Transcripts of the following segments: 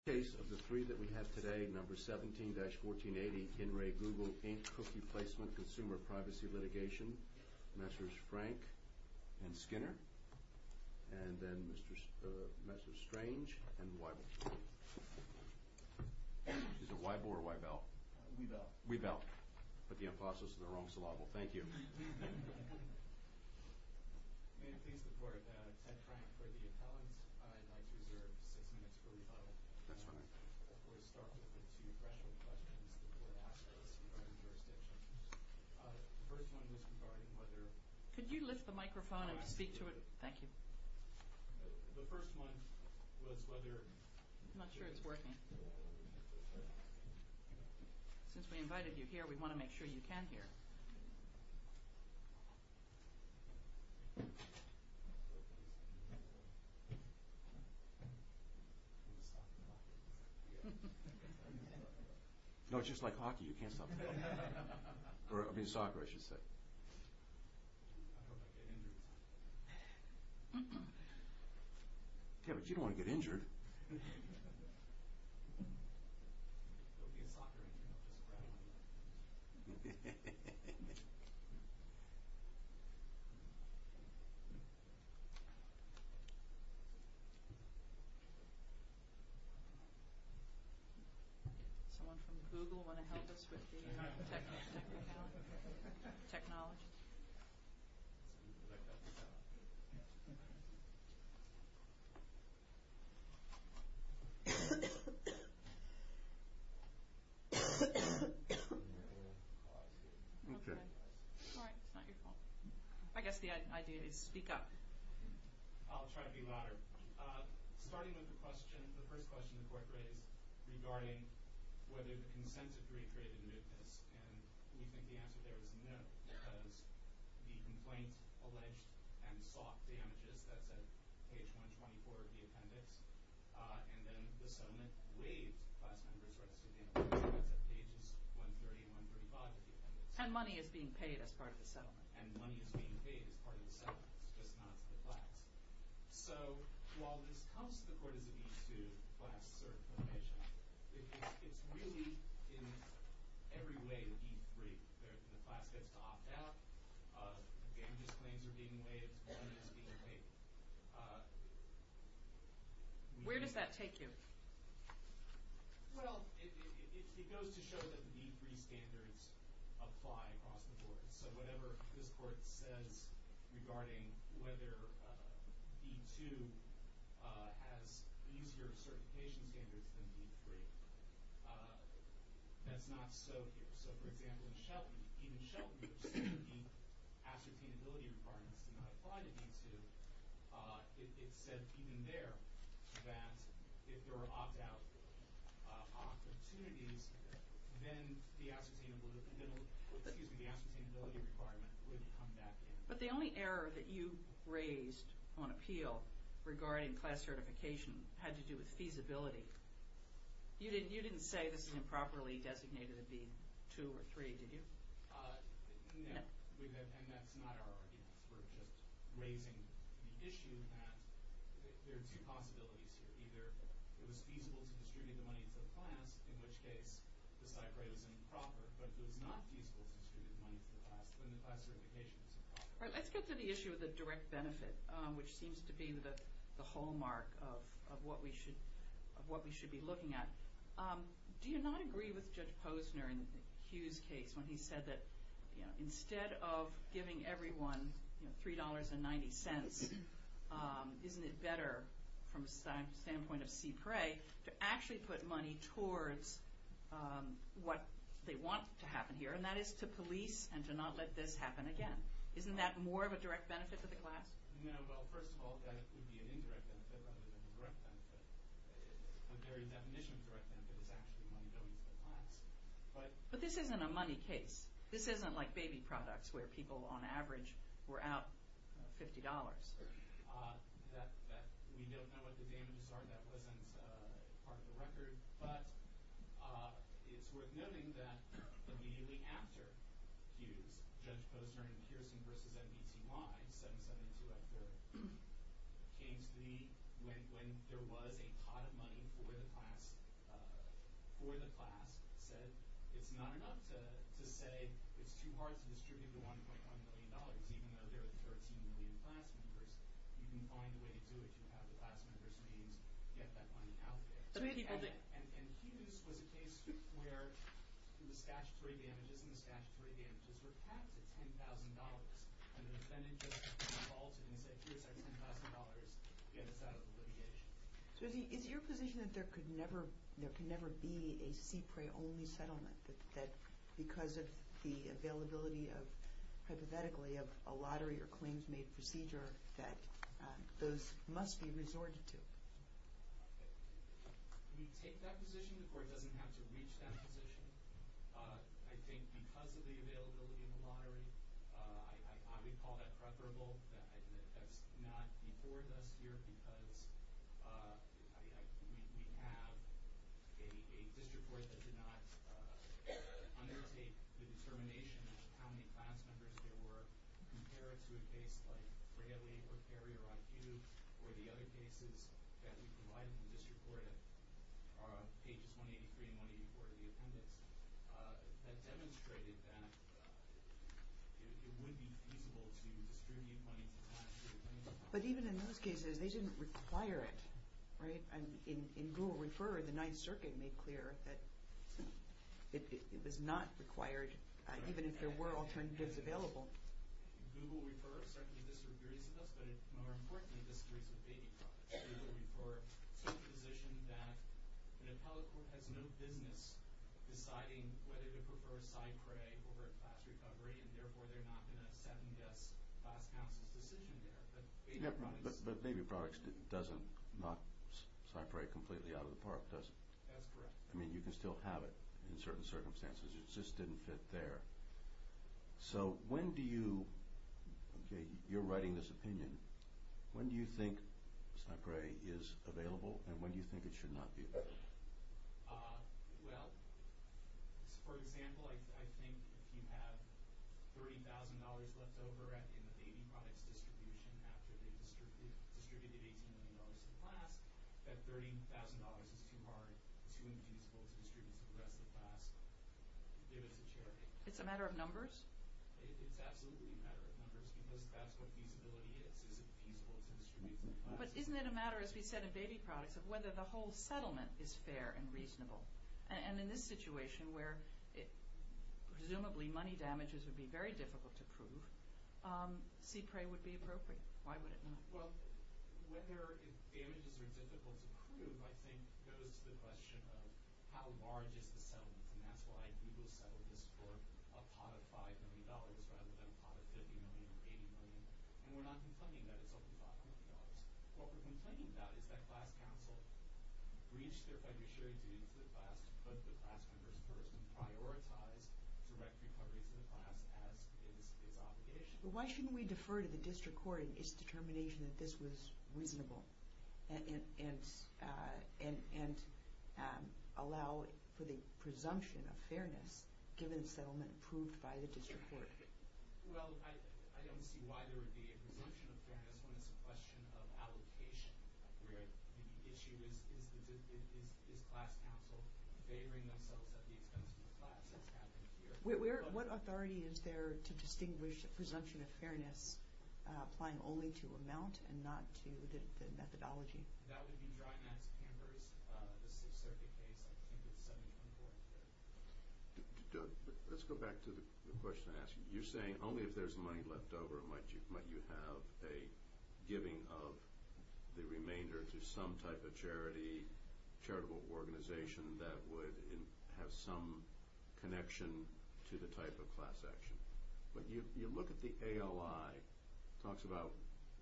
In the case of the three that we have today, number 17-1480, In Re Google Inc. Cookie Placement Consumer Privacy Litigation, Messrs. Frank and Skinner, and then Messrs. Strange and Weibel. Is it Weibel or Weibel? Weibel. Weibel. Put the impostos in the wrong syllable. Thank you. May it please the court, Ted Frank for the appellant. I'd like to reserve six minutes for rebuttal. That's all right. Before we start with the two threshold questions that were asked of us regarding jurisdiction. The first one was regarding whether... Could you lift the microphone and speak to it? Thank you. The first one was whether... I'm not sure it's working. Since we invited you here, we want to make sure you can hear. No, it's just like hockey. You can't stop talking. I mean soccer, I should say. I don't want to get injured. Yeah, but you don't want to get injured. It'll be a soccer injury. Someone from Google want to help us with the technology? Technology. I guess the idea is speak up. I'll try to be louder. Starting with the first question the court raised regarding whether the consent decree created mootness. And we think the answer there is no. Because the complaint alleged and sought damages. That's at page 124 of the appendix. And then the settlement waived class members' rights to damages. That's at pages 130 and 135 of the appendix. And money is being paid as part of the settlement. And money is being paid as part of the settlement. It's just not to the class. So while this comes to the court as a B-2 class certification, it's really in every way a B-3. The class gets to opt out. Damages claims are being waived. Money is being waived. Where does that take you? Well, it goes to show that the B-3 standards apply across the board. So whatever this court says regarding whether B-2 has easier certification standards than B-3, that's not so here. So, for example, even Shelton said the ascertainability requirements do not apply to B-2. It said even there that if there were opt-out opportunities, then the ascertainability requirement would come back in. But the only error that you raised on appeal regarding class certification had to do with feasibility. You didn't say this is improperly designated a B-2 or B-3, did you? No. And that's not our argument. We're just raising the issue that there are two possibilities here. Either it was feasible to distribute the money to the class, in which case the stipe rate was improper. But it was not feasible to distribute the money to the class when the class certification was improper. Let's get to the issue of the direct benefit, which seems to be the hallmark of what we should be looking at. Do you not agree with Judge Posner in Hugh's case when he said that instead of giving everyone $3.90, isn't it better from the standpoint of CPRE to actually put money towards what they want to happen here, and that is to police and to not let this happen again? Isn't that more of a direct benefit to the class? No. Well, first of all, that it would be an indirect benefit rather than a direct benefit. A very definition of direct benefit is actually money going to the class. But this isn't a money case. This isn't like baby products where people on average were out $50. We don't know what the damages are. That wasn't part of the record. But it's worth noting that immediately after Hughes, Judge Posner in Pearson v. MBTY, 772 at third, came to me when there was a pot of money for the class, said it's not enough to say it's too hard to distribute the $1.1 million, even though there are 13 million class members. You can find a way to do it. You can have the class members' names get that money out there. And Hughes was a case where the statutory damages and the statutory damages were capped at $10,000. And the defendant just called and said, here's our $10,000. Get us out of the litigation. So is it your position that there could never be a CPRA-only settlement, that because of the availability of, hypothetically, of a lottery or claims-made procedure, that those must be resorted to? We take that position. The court doesn't have to reach that position. I think because of the availability of the lottery, I would call that preferable. That's not before us here because we have a district court that did not undertake the determination of how many class members there were compared to a case like Braley or Carrier on Hughes or the other cases that we provided in the district court on pages 183 and 184 of the appendix that demonstrated that it would be feasible to distribute money to class. But even in those cases, they didn't require it. In Google Refer, the Ninth Circuit made clear that it was not required, even if there were alternatives available. Google Refer certainly disagrees with us, but more importantly disagrees with Baby Products. Google Refer took the position that an appellate court has no business deciding whether to prefer a side CRA over a class recovery, and therefore they're not going to second-guess class counsel's decision there. But Baby Products doesn't knock side CRA completely out of the park, does it? That's correct. I mean, you can still have it in certain circumstances. It just didn't fit there. So when do you—you're writing this opinion—when do you think side CRA is available, and when do you think it should not be available? Well, for example, I think if you have $30,000 left over in the Baby Products distribution after they distributed $18 million to the class, that $30,000 is too hard, too infeasible to distribute to the rest of the class. It's a matter of numbers? It's absolutely a matter of numbers, because that's what feasibility is. Is it feasible to distribute to the class? But isn't it a matter, as we said in Baby Products, of whether the whole settlement is fair and reasonable? And in this situation, where presumably money damages would be very difficult to prove, C-PRE would be appropriate. Why would it not? Well, whether damages are difficult to prove, I think, goes to the question of how large is the settlement, and that's why Google settled this for a pot of $5 million rather than a pot of $50 million or $80 million. And we're not complaining that it's only $5 million. What we're complaining about is that class counsel breached their fiduciary duty to the class to put the class members first and prioritized direct recovery to the class as its obligation. But why shouldn't we defer to the district court in its determination that this was reasonable and allow for the presumption of fairness given the settlement approved by the district court? Well, I don't see why there would be a presumption of fairness when it's a question of allocation. The issue is, is class counsel favoring themselves at the expense of the class? What authority is there to distinguish a presumption of fairness applying only to amount and not to the methodology? That would be dry mats. This is a circuit case. Let's go back to the question I asked you. You're saying only if there's money left over might you have a giving of the remainder to some type of charity, charitable organization that would have some connection to the type of class action. But you look at the ALI. It talks about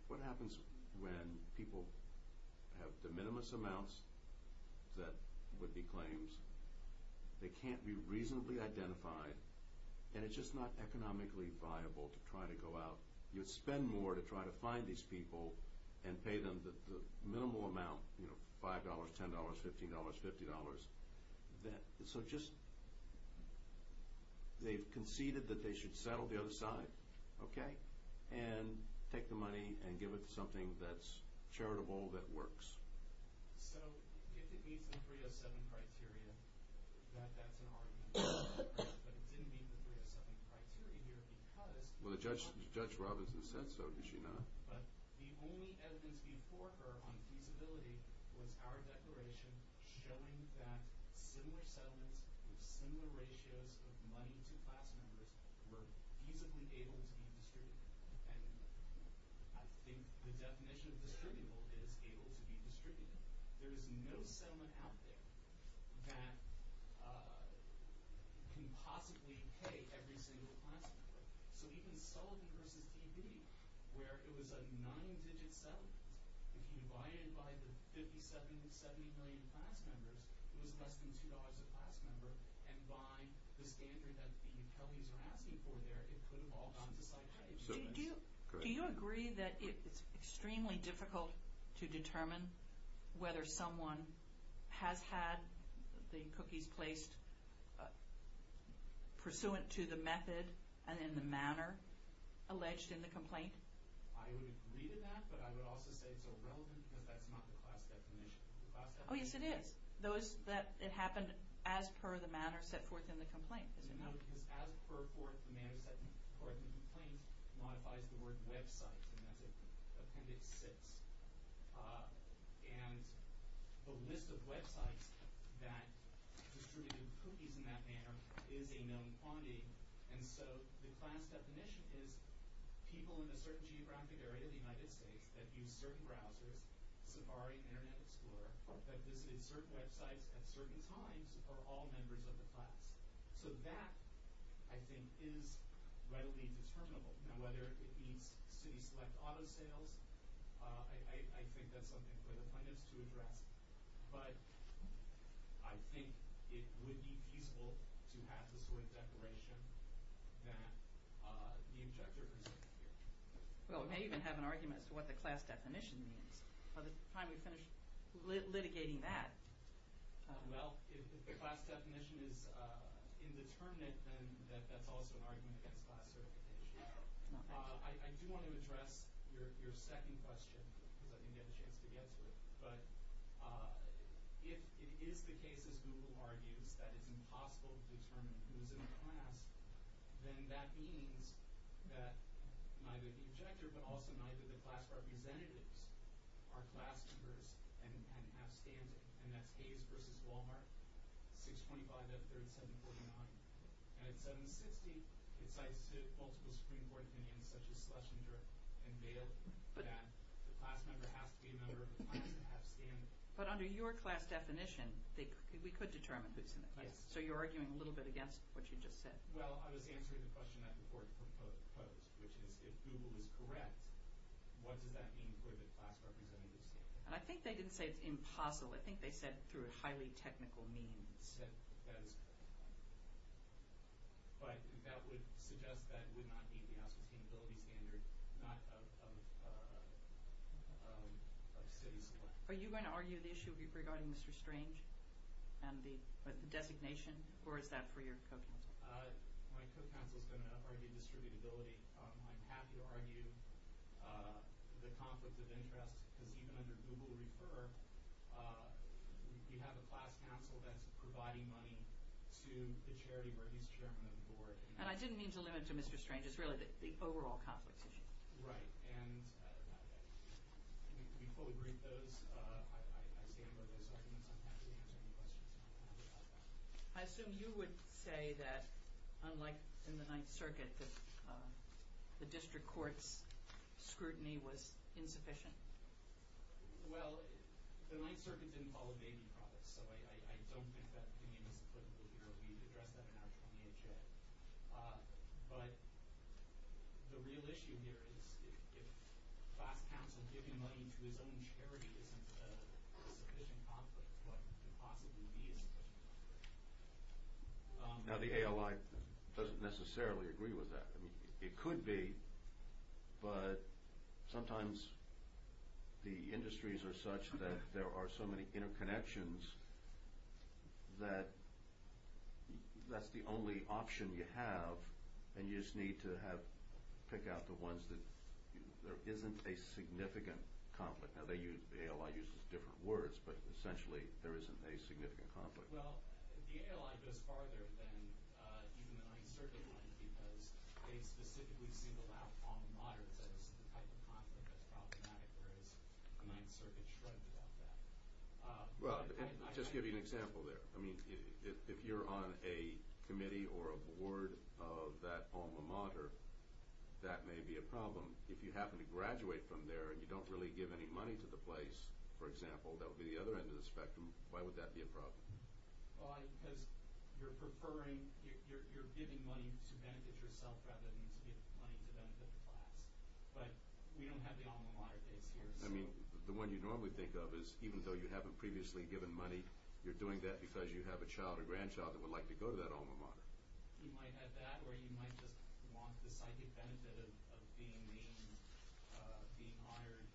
what happens when people have de minimis amounts that would be claims. They can't be reasonably identified, and it's just not economically viable to try to go out. You'd spend more to try to find these people and pay them the minimal amount, $5, $10, $15, $50. So just they've conceded that they should settle the other side, okay, and take the money and give it to something that's charitable that works. So if it meets the 307 criteria, that's an argument. But it didn't meet the 307 criteria here because— Well, Judge Robinson said so. Did she not? But the only evidence before her on feasibility was our declaration showing that similar settlements with similar ratios of money to class members were feasibly able to be distributed. And I think the definition of distributable is able to be distributed. There is no settlement out there that can possibly pay every single class member. So even Sullivan v. TD, where it was a nine-digit settlement, if you divide it by the 50, 70, 70 million class members, it was less than $2 a class member. And by the standard that the utilities are asking for there, it could have all gone to side change. Do you agree that it's extremely difficult to determine whether someone has had the cookies placed pursuant to the method and in the manner alleged in the complaint? I would agree to that, but I would also say it's irrelevant because that's not the class definition. Oh, yes, it is. It happened as per the manner set forth in the complaint, is it not? No, because as per the manner set forth in the complaint modifies the word website. And that's Appendix 6. And the list of websites that distributed cookies in that manner is a known quantity. And so the class definition is people in a certain geographic area of the United States that use certain browsers, Safari, Internet Explorer, that visited certain websites at certain times, are all members of the class. So that, I think, is readily determinable. Now, whether it meets city-select auto sales, I think that's something for the plaintiffs to address. But I think it would be feasible to have the sort of declaration that the objector is here. Well, we may even have an argument as to what the class definition means by the time we finish litigating that. Well, if the class definition is indeterminate, then that's also an argument against class certification. I do want to address your second question because I didn't get a chance to get to it. But if it is the case, as Google argues, that it's impossible to determine who's in the class, then that means that neither the objector but also neither the class representatives are class members and have standing, and that's Hayes versus Wal-Mart, 625.3749. And at 760, it cites multiple Supreme Court opinions, such as Schlesinger and Bale, that the class member has to be a member of the class and have standing. But under your class definition, we could determine who's in the class. So you're arguing a little bit against what you just said. Well, I was answering the question that the court proposed, which is if Google is correct, what does that mean for the class representatives? And I think they didn't say it's impossible. I think they said through highly technical means. But that would suggest that would not meet the House Sustainability Standard, not of cities. Are you going to argue the issue regarding Mr. Strange and the designation, or is that for your co-counsel? My co-counsel is going to argue distributability. I'm happy to argue the conflict of interest, because even under Google Refer, you have a class counsel that's providing money to the charity where he's chairman of the board. And I didn't mean to limit it to Mr. Strange. It's really the overall conflict issue. Right. And we fully agree with those. I stand by those arguments. I'm happy to answer any questions you might have about that. I assume you would say that, unlike in the Ninth Circuit, the district court's scrutiny was insufficient. Well, the Ninth Circuit didn't follow baby products, so I don't think that opinion is applicable here. But the real issue here is if class counsel giving money to his own charity isn't a sufficient conflict, what could possibly be a sufficient conflict? Now, the ALI doesn't necessarily agree with that. It could be, but sometimes the industries are such that there are so many interconnections that that's the only option you have, and you just need to pick out the ones that there isn't a significant conflict. Now, the ALI uses different words, but essentially there isn't a significant conflict. Well, the ALI goes farther than even the Ninth Circuit would, because they specifically single out alma maters as the type of conflict that's problematic, whereas the Ninth Circuit shrugged about that. Well, I'll just give you an example there. I mean, if you're on a committee or a board of that alma mater, that may be a problem. If you happen to graduate from there and you don't really give any money to the place, for example, that would be the other end of the spectrum, why would that be a problem? Well, because you're giving money to benefit yourself rather than to give money to benefit the class. But we don't have the alma mater case here. I mean, the one you normally think of is even though you haven't previously given money, you're doing that because you have a child or grandchild that would like to go to that alma mater. You might have that, or you might just want the side benefit of being named, being hired,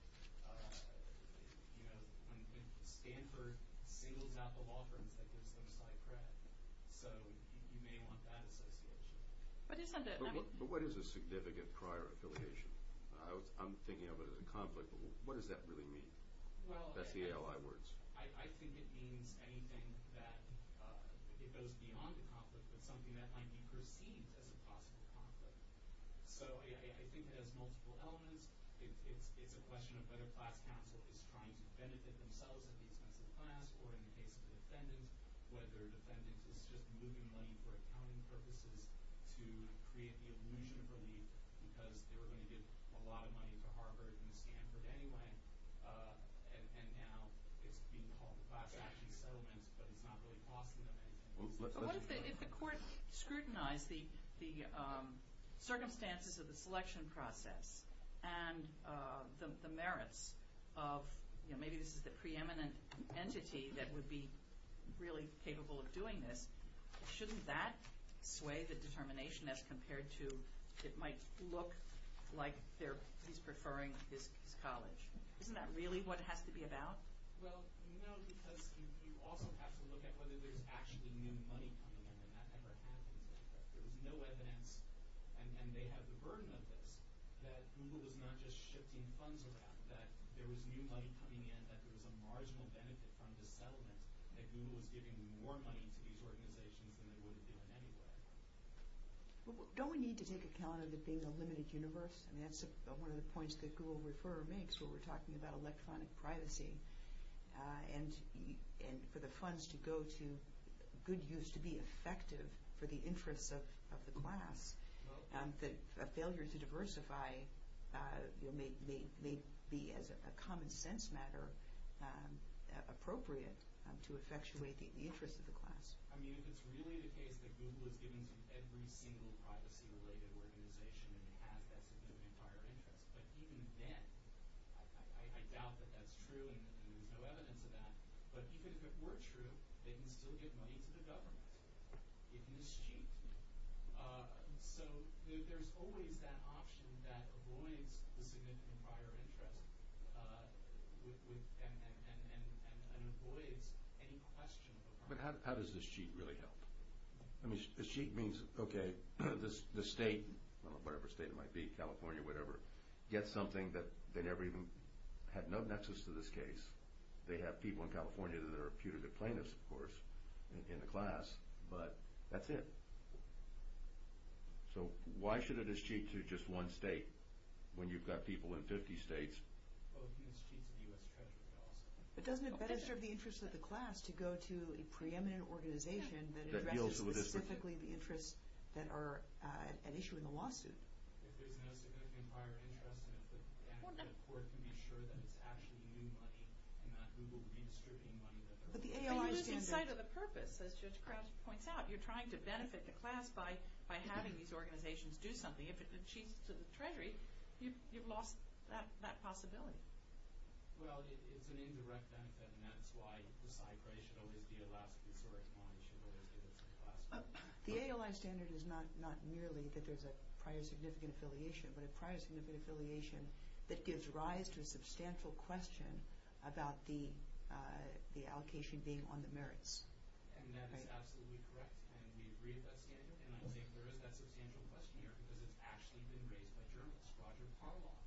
when Stanford singles out the law firms that gives them side credit. So you may want that association. But what is a significant prior affiliation? I'm thinking of it as a conflict, but what does that really mean? That's the ALI words. I think it means anything that goes beyond a conflict, but something that might be perceived as a possible conflict. So I think it has multiple elements. It's a question of whether class counsel is trying to benefit themselves at the expense of the class, or in the case of the defendant, whether the defendant is just moving money for accounting purposes to create the illusion of relief because they were going to give a lot of money to Harvard and Stanford anyway. And now it's being called class action settlements, but it's not really costing them anything. If the court scrutinized the circumstances of the selection process and the merits of, maybe this is the preeminent entity that would be really capable of doing this, shouldn't that sway the determination as compared to it might look like he's preferring his college? Isn't that really what it has to be about? Well, no, because you also have to look at whether there's actually new money coming in, and that never happens. There was no evidence, and they have the burden of this, that Google was not just shifting funds around, that there was new money coming in, that there was a marginal benefit from the settlement, that Google was giving more money to these organizations than they would have given anyway. Don't we need to take account of it being a limited universe? I mean, that's one of the points that Google Refer makes when we're talking about electronic privacy, and for the funds to go to good use, to be effective for the interests of the class. A failure to diversify may be, as a common sense matter, appropriate to effectuate the interests of the class. I mean, if it's really the case that Google is giving to every single privacy-related organization and has that significant higher interest, but even then, I doubt that that's true, and there's no evidence of that, but even if it were true, they can still give money to the government. It mischeaps you. So there's always that option that avoids the significant higher interest and avoids any question of the privacy. But how does this cheat really help? I mean, a cheat means, okay, the state, whatever state it might be, California, whatever, gets something that they never even had no nexus to this case. They have people in California that are putative plaintiffs, of course, in the class, but that's it. So why should it as cheat to just one state when you've got people in 50 states? It doesn't better serve the interests of the class to go to a preeminent organization that addresses specifically the interests that are at issue in the lawsuit. If there's no significant higher interest and if the court can be sure that it's actually new money and not Google redistricting money that they're using. But you're losing sight of the purpose, as Judge Crouch points out. You're trying to benefit the class by having these organizations do something. If it cheats to the Treasury, you've lost that possibility. Well, it's an indirect benefit, and that's why the side price should always be at last resort. The ALI standard is not merely that there's a prior significant affiliation, but a prior significant affiliation that gives rise to a substantial question about the allocation being on the merits. And that is absolutely correct, and we agree with that standard, and I think there is that substantial question here because it's actually been raised by journalists. Roger Parlock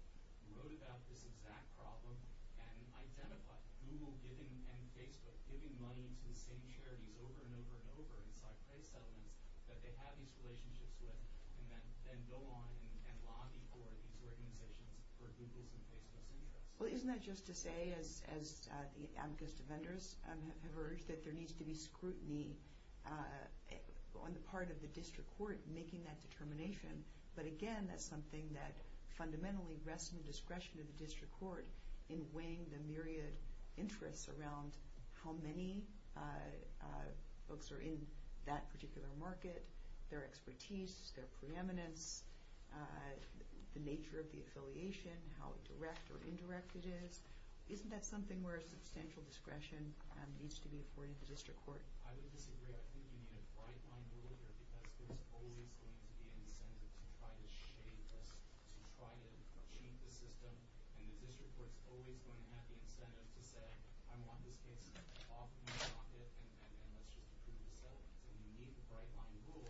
wrote about this exact problem and identified Google giving, and Facebook, giving money to the same charities over and over and over in side price settlements that they have these relationships with and then go on and lobby for these organizations for Google's and Facebook's interests. Well, isn't that just to say, as the advocates to vendors have urged, that there needs to be scrutiny on the part of the district court making that determination. But again, that's something that fundamentally rests in the discretion of the district court in weighing the myriad interests around how many folks are in that particular market, their expertise, their preeminence, the nature of the affiliation, how direct or indirect it is. Isn't that something where a substantial discretion needs to be afforded to the district court? I would disagree. I think you need a bright-line rule here because there's always going to be incentive to try to shade this, to try to cheat the system, and the district court's always going to have the incentive to say, I want this case off my pocket and let's just approve the settlement. So you need a bright-line rule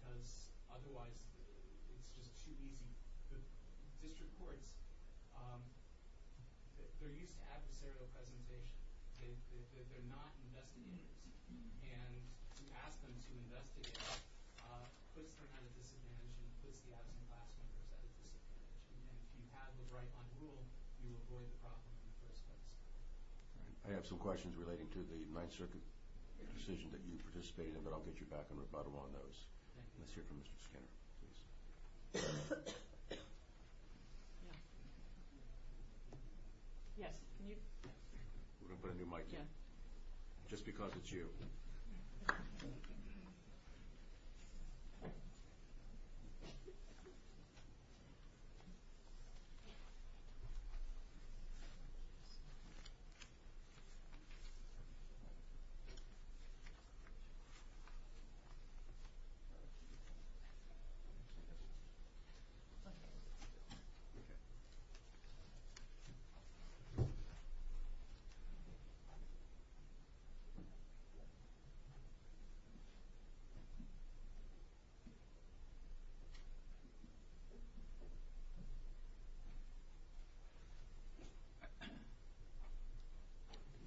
because otherwise it's just too easy. The district courts, they're used to adversarial presentation. They're not investigators. And to ask them to investigate puts them at a disadvantage and puts the absent class members at a disadvantage. And if you have a bright-line rule, you avoid the problem in the first place. I have some questions relating to the Ninth Circuit decision that you participated in, but I'll get you back in rebuttal on those. Let's hear from Mr. Skinner, please. Yes, can you? We're going to put a new mic in, just because it's you. Thank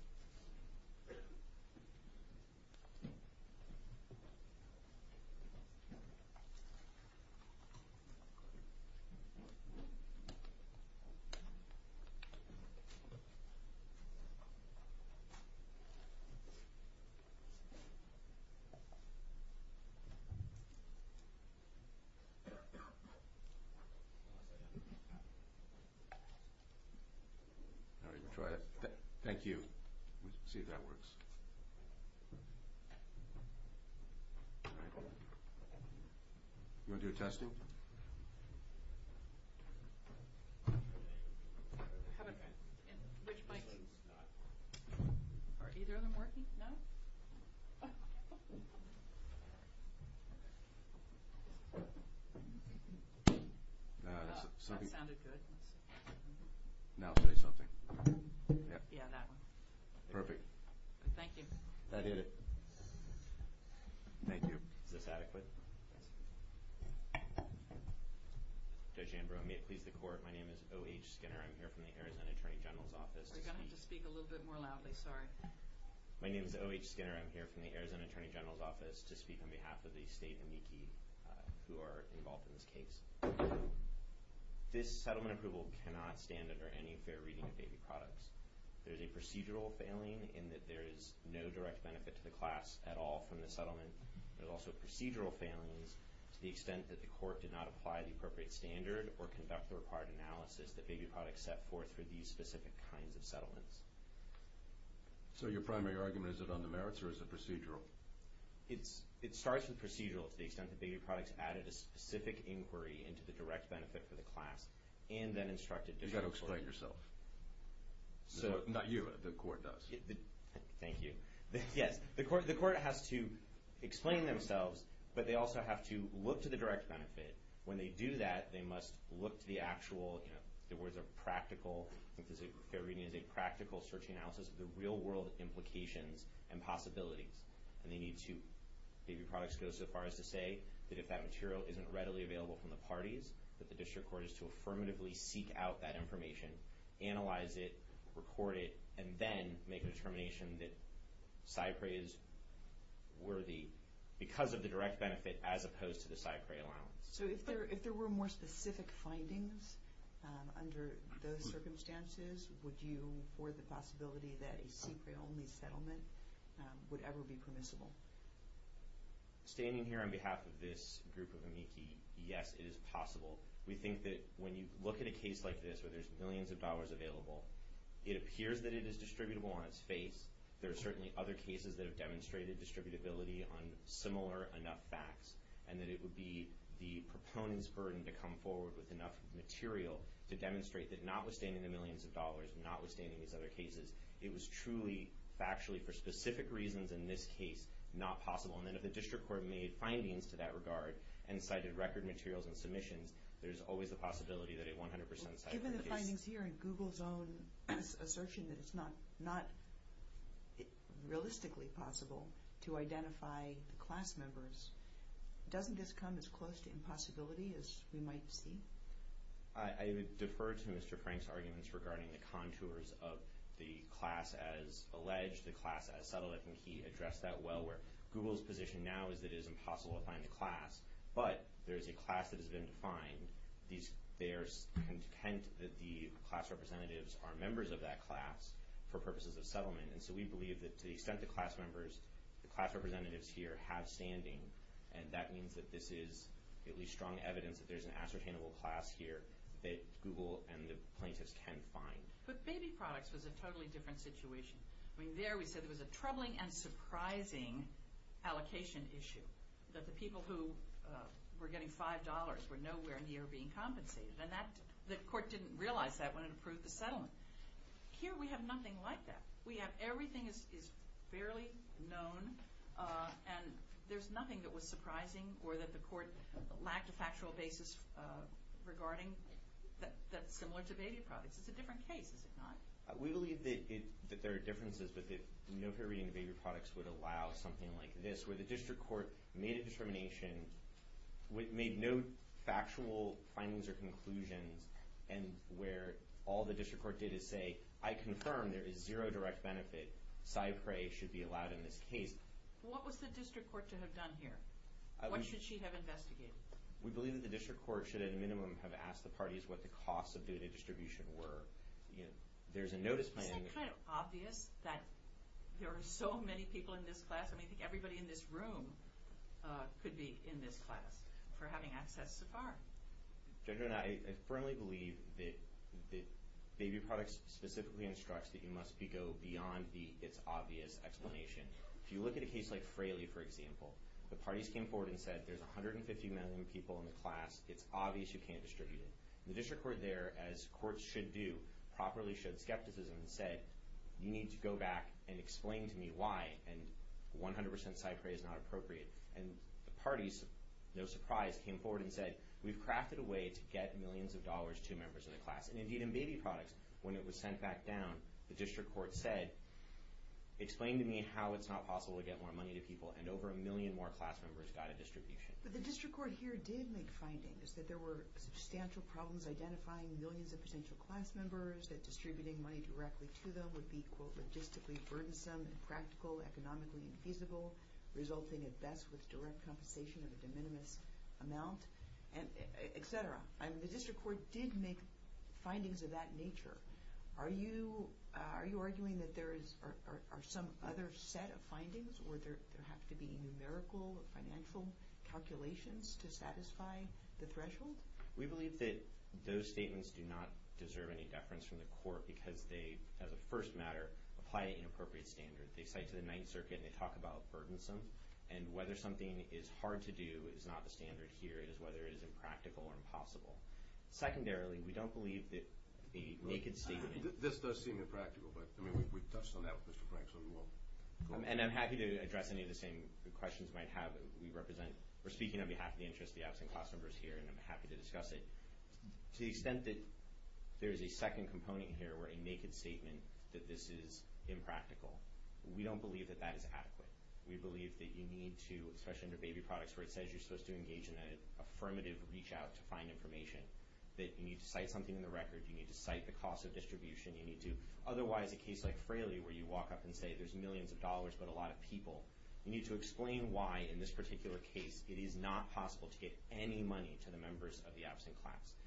you. All right. Thank you. We'll see if that works. All right. You want to do a testing? Which mic? Are either of them working? No? That sounded good. Now say something. Yeah, that one. Perfect. Thank you. That did it. Thank you. Is this adequate? Yes. Judge Ambrose, may it please the Court, my name is O.H. Skinner. I'm here from the Arizona Attorney General's Office to speak. You're going to have to speak a little bit more loudly, sorry. My name is O.H. Skinner. I'm here from the Arizona Attorney General's Office to speak on behalf of the State and NICI who are involved in this case. This settlement approval cannot stand under any fair reading of baby products. There's a procedural failing in that there is no direct benefit to the class at all from the settlement. There's also procedural failings to the extent that the Court did not apply the appropriate standard or conduct the required analysis that baby products set forth for these specific kinds of settlements. So your primary argument, is it on the merits or is it procedural? It starts with procedural to the extent that baby products added a specific inquiry into the direct benefit for the class and then instructed different courts. You've got to explain it yourself. Not you, the Court does. Thank you. Yes, the Court has to explain themselves, but they also have to look to the direct benefit. When they do that, they must look to the actual, you know, the words are practical, I think fair reading is a practical search analysis of the real world implications and possibilities. And they need to, baby products go so far as to say that if that material isn't readily available from the parties, that the District Court is to affirmatively seek out that information, analyze it, record it, and then make a determination that SIPRE is worthy because of the direct benefit as opposed to the SIPRE allowance. So if there were more specific findings under those circumstances, would you afford the possibility that a SIPRE-only settlement would ever be permissible? Standing here on behalf of this group of amici, yes, it is possible. We think that when you look at a case like this where there's millions of dollars available, it appears that it is distributable on its face. There are certainly other cases that have demonstrated distributability on similar enough facts, and that it would be the proponent's burden to come forward with enough material to demonstrate that notwithstanding the millions of dollars, notwithstanding these other cases, it was truly factually for specific reasons in this case not possible. And then if the District Court made findings to that regard and cited record materials and submissions, there's always the possibility that a 100% SIPRE case— Assertion that it's not realistically possible to identify the class members. Doesn't this come as close to impossibility as we might see? I defer to Mr. Frank's arguments regarding the contours of the class as alleged, the class as settled. I think he addressed that well where Google's position now is that it is impossible to find a class, but there is a class that has been defined. There's content that the class representatives are members of that class for purposes of settlement, and so we believe that to the extent the class members, the class representatives here have standing, and that means that this is at least strong evidence that there's an ascertainable class here that Google and the plaintiffs can find. But baby products was a totally different situation. I mean, there we said there was a troubling and surprising allocation issue, that the people who were getting $5 were nowhere near being compensated, and the court didn't realize that when it approved the settlement. Here we have nothing like that. We have—everything is fairly known, and there's nothing that was surprising or that the court lacked a factual basis regarding that's similar to baby products. It's a different case, is it not? We believe that there are differences, but that no fair reading of baby products would allow something like this, where the district court made a determination, made no factual findings or conclusions, and where all the district court did is say, I confirm there is zero direct benefit. Cypre should be allowed in this case. What was the district court to have done here? What should she have investigated? We believe that the district court should at a minimum have asked the parties what the costs of data distribution were. There's a notice— Isn't it kind of obvious that there are so many people in this class? I mean, I think everybody in this room could be in this class for having access so far. I firmly believe that baby products specifically instructs that you must go beyond the it's obvious explanation. If you look at a case like Fraley, for example, the parties came forward and said there's 150 million people in the class. It's obvious you can't distribute it. The district court there, as courts should do, properly showed skepticism and said, you need to go back and explain to me why. And 100% Cypre is not appropriate. And the parties, no surprise, came forward and said, we've crafted a way to get millions of dollars to members of the class. And indeed in baby products, when it was sent back down, the district court said, explain to me how it's not possible to get more money to people. And over a million more class members got a distribution. But the district court here did make findings that there were substantial problems identifying millions of potential class members, that distributing money directly to them would be, quote, logistically burdensome, impractical, economically infeasible, resulting at best with direct compensation of a de minimis amount, et cetera. I mean, the district court did make findings of that nature. Are you arguing that there are some other set of findings, or there have to be numerical or financial calculations to satisfy the threshold? We believe that those statements do not deserve any deference from the court because they, as a first matter, apply an inappropriate standard. They cite to the Ninth Circuit and they talk about burdensome. And whether something is hard to do is not the standard here. It is whether it is impractical or impossible. Secondarily, we don't believe that a naked statement— This does seem impractical, but, I mean, we've touched on that with Mr. Frank, And I'm happy to address any of the same questions you might have. We're speaking on behalf of the interest of the absent class members here, and I'm happy to discuss it. To the extent that there is a second component here, where a naked statement that this is impractical, we don't believe that that is adequate. We believe that you need to, especially under baby products, where it says you're supposed to engage in an affirmative reach-out to find information, that you need to cite something in the record, you need to cite the cost of distribution, you need to—otherwise, a case like Fraley where you walk up and say there's millions of dollars but a lot of people, you need to explain why, in this particular case, it is not possible to get any money to the members of the absent class.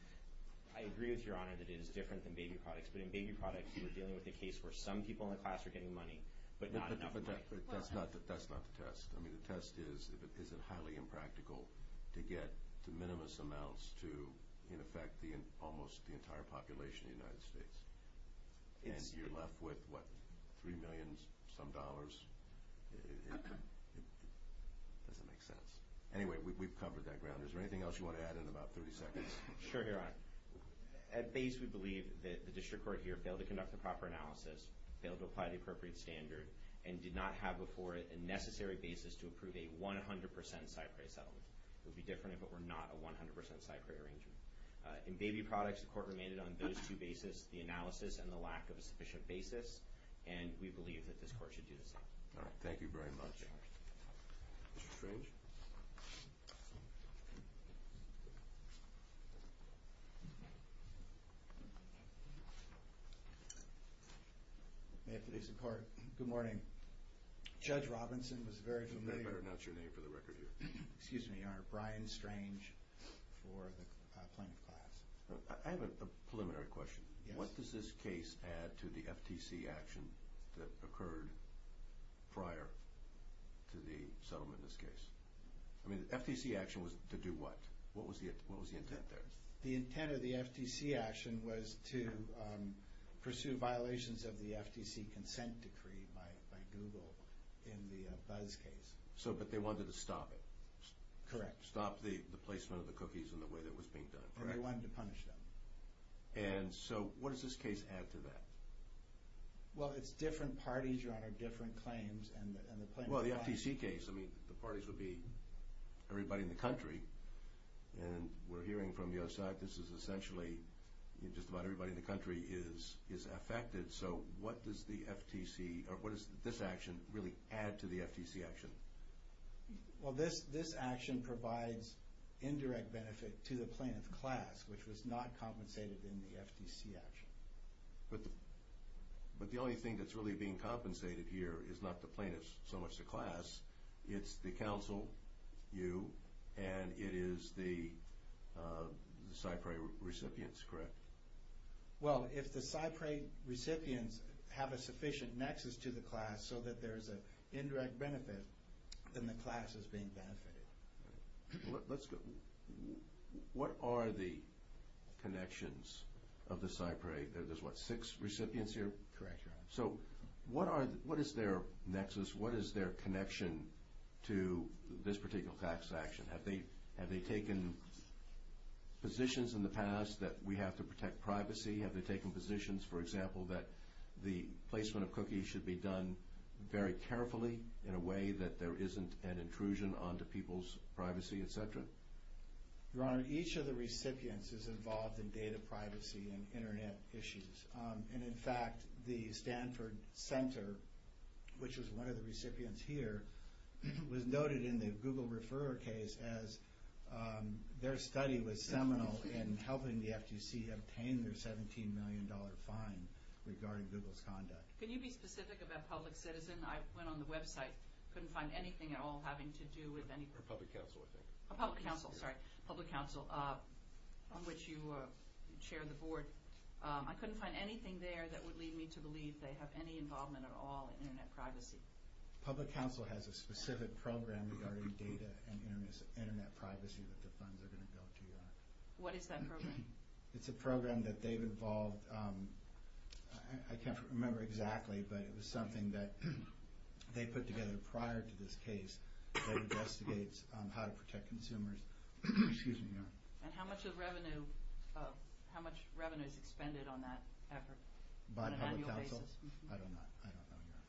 I agree with Your Honor that it is different than baby products, but in baby products, you are dealing with a case where some people in the class are getting money, but not enough money. But that's not the test. I mean, the test is, is it highly impractical to get the minimum amounts to, in effect, almost the entire population of the United States? And you're left with, what, three million-some dollars? It doesn't make sense. Anyway, we've covered that ground. Is there anything else you want to add in about 30 seconds? Sure, Your Honor. At base, we believe that the district court here failed to conduct the proper analysis, failed to apply the appropriate standard, and did not have before it a necessary basis to approve a 100% side-price settlement. It would be different if it were not a 100% side-price arrangement. In baby products, the court remained on those two bases, the analysis and the lack of a sufficient basis, and we believe that this court should do the same. All right, thank you very much. Mr. Strange? May it please the Court. Good morning. Judge Robinson was very familiar— Your Honor, Brian Strange for the plaintiff class. I have a preliminary question. What does this case add to the FTC action that occurred prior to the settlement in this case? I mean, the FTC action was to do what? What was the intent there? The intent of the FTC action was to pursue violations of the FTC consent decree by Google in the Buzz case. But they wanted to stop it. Correct. Stop the placement of the cookies in the way that was being done. Correct. And they wanted to punish them. And so what does this case add to that? Well, it's different parties, Your Honor, different claims, and the plaintiff class— Well, the FTC case, I mean, the parties would be everybody in the country, and we're hearing from the other side this is essentially just about everybody in the country is affected. So what does the FTC—or what does this action really add to the FTC action? Well, this action provides indirect benefit to the plaintiff class, which was not compensated in the FTC action. But the only thing that's really being compensated here is not the plaintiff, so much the class. It's the counsel, you, and it is the CyPRI recipients, correct? Well, if the CyPRI recipients have a sufficient nexus to the class so that there is an indirect benefit, then the class is being benefited. Let's go—what are the connections of the CyPRI? There's, what, six recipients here? Correct, Your Honor. So what is their nexus? What is their connection to this particular tax action? Have they taken positions in the past that we have to protect privacy? Have they taken positions, for example, that the placement of cookies should be done very carefully in a way that there isn't an intrusion onto people's privacy, et cetera? Your Honor, each of the recipients is involved in data privacy and Internet issues. And, in fact, the Stanford Center, which was one of the recipients here, was noted in the Google Referrer case as their study was seminal in helping the FTC obtain their $17 million fine regarding Google's conduct. Can you be specific about public citizen? I went on the website, couldn't find anything at all having to do with any— Public counsel, I think. Public counsel, sorry. Public counsel, on which you chair the board. I couldn't find anything there that would lead me to believe they have any involvement at all in Internet privacy. Public counsel has a specific program regarding data and Internet privacy that the funds are going to go to, Your Honor. What is that program? It's a program that they've involved—I can't remember exactly, but it was something that they put together prior to this case that investigates how to protect consumers. Excuse me, Your Honor. And how much revenue is expended on that effort on an annual basis? By public counsel? I don't know. I don't know, Your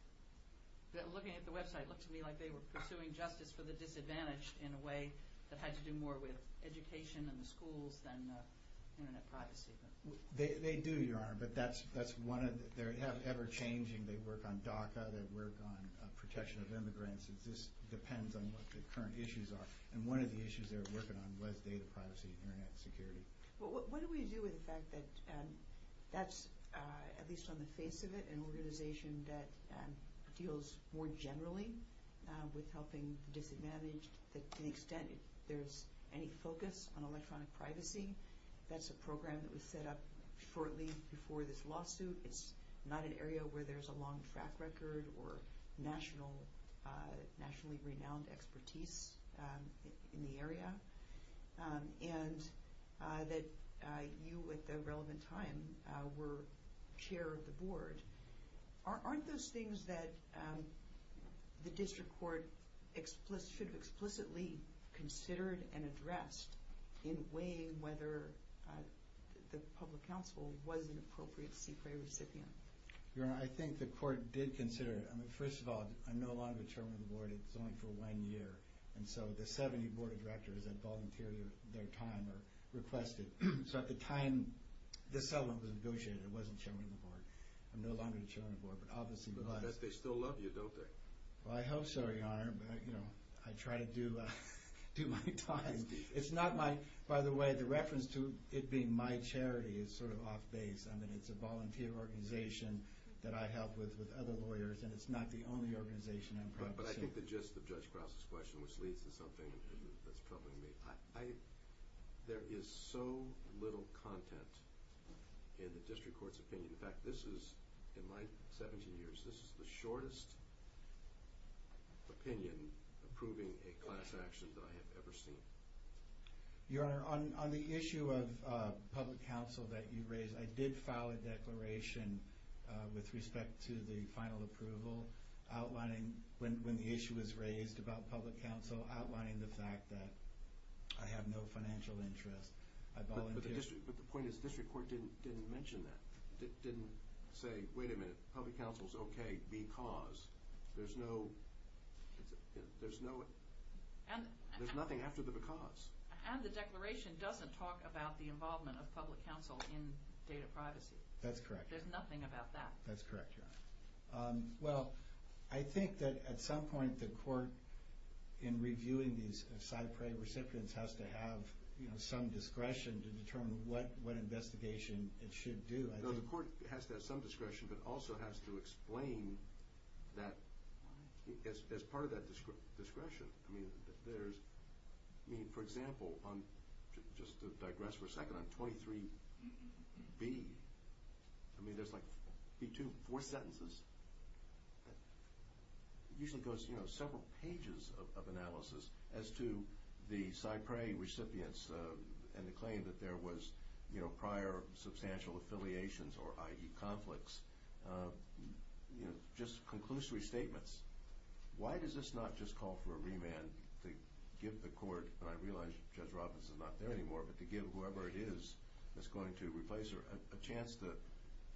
Honor. Looking at the website, it looks to me like they were pursuing justice for the disadvantaged in a way that had to do more with education and the schools than Internet privacy. They do, Your Honor, but that's one of—they're ever-changing. They work on DACA, they work on protection of immigrants. This depends on what the current issues are. And one of the issues they're working on was data privacy and Internet security. What do we do with the fact that that's, at least on the face of it, an organization that deals more generally with helping the disadvantaged? To the extent there's any focus on electronic privacy, that's a program that was set up shortly before this lawsuit. It's not an area where there's a long track record or nationally renowned expertise in the area. And that you, at the relevant time, were chair of the board. Aren't those things that the district court should have explicitly considered and addressed in weighing whether the public counsel was an appropriate CPA recipient? Your Honor, I think the court did consider it. I mean, first of all, I'm no longer chairman of the board. It's only for one year. And so the 70 board of directors that volunteer their time are requested. So at the time this settlement was negotiated, I wasn't chairman of the board. I'm no longer the chairman of the board, but obviously was. But I bet they still love you, don't they? Well, I hope so, Your Honor. I try to do my time. By the way, the reference to it being my charity is sort of off base. I mean, it's a volunteer organization that I help with with other lawyers, and it's not the only organization I'm practicing. But I think the gist of Judge Krause's question, which leads to something that's troubling me, there is so little content in the district court's opinion. In fact, this is, in my 17 years, this is the shortest opinion approving a class action that I have ever seen. Your Honor, on the issue of public counsel that you raised, I did file a declaration with respect to the final approval outlining, when the issue was raised about public counsel, outlining the fact that I have no financial interest. I volunteer. But the point is the district court didn't mention that. It didn't say, wait a minute, public counsel is okay because. There's no, there's nothing after the because. And the declaration doesn't talk about the involvement of public counsel in data privacy. That's correct. There's nothing about that. That's correct, Your Honor. Well, I think that at some point, the court in reviewing these cypre recipients has to have some discretion to determine what investigation it should do. No, the court has to have some discretion, but also has to explain that as part of that discretion. I mean, for example, just to digress for a second, on 23B, I mean, there's like B2, four sentences, usually goes several pages of analysis as to the cypre recipients and the claim that there was prior substantial affiliations or, i.e., conflicts, just conclusory statements. Why does this not just call for a remand to give the court, and I realize Judge Robbins is not there anymore, but to give whoever it is that's going to replace her a chance to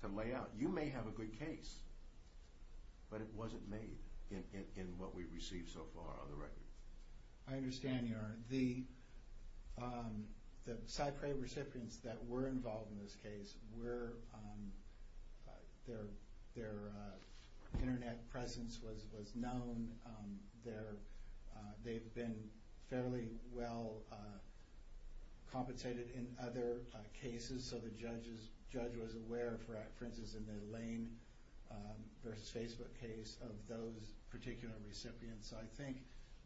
lay out. You may have a good case, but it wasn't made in what we've received so far on the record. I understand, Your Honor. The cypre recipients that were involved in this case, their Internet presence was known. They've been fairly well compensated in other cases, so the judge was aware, for instance, in the Lane v. Facebook case, of those particular recipients. So I think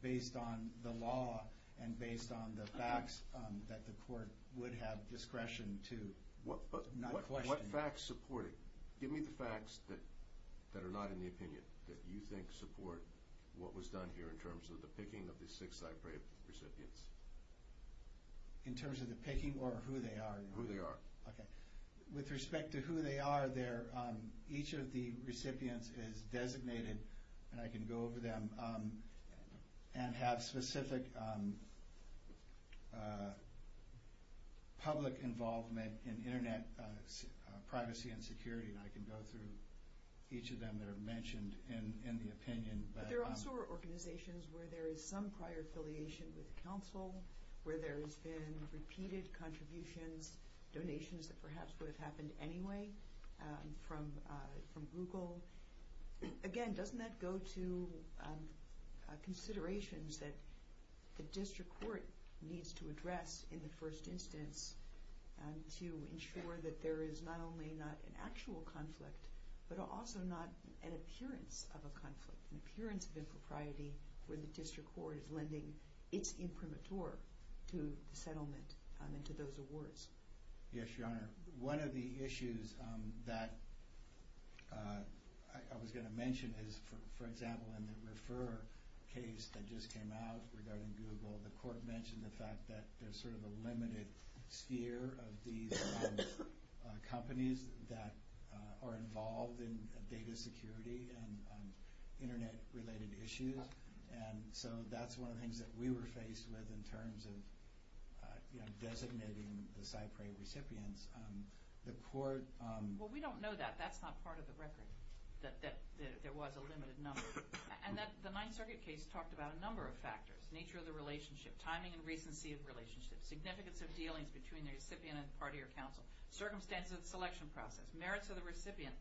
based on the law and based on the facts, that the court would have discretion to not question. What facts support it? Give me the facts that are not in the opinion that you think support what was done here in terms of the picking of the six cypre recipients. In terms of the picking or who they are? Who they are. Okay. With respect to who they are, each of the recipients is designated, and I can go over them, and have specific public involvement in Internet privacy and security, and I can go through each of them that are mentioned in the opinion. But there also are organizations where there is some prior affiliation with counsel, where there has been repeated contributions, donations that perhaps would have happened anyway from Google. Again, doesn't that go to considerations that the district court needs to address in the first instance to ensure that there is not only not an actual conflict, but also not an appearance of a conflict, an appearance of impropriety where the district court is lending its imprimatur to the settlement and to those awards? Yes, Your Honor. One of the issues that I was going to mention is, for example, in the Refer case that just came out regarding Google, the court mentioned the fact that there's sort of a limited sphere of these companies that are involved in data security and Internet-related issues. And so that's one of the things that we were faced with in terms of, you know, designating the Cypre recipients. The court… Well, we don't know that. That's not part of the record, that there was a limited number. And the Ninth Circuit case talked about a number of factors, nature of the relationship, timing and recency of relationships, significance of dealings between the recipient and the party or council, circumstances of the selection process, merits of the recipient.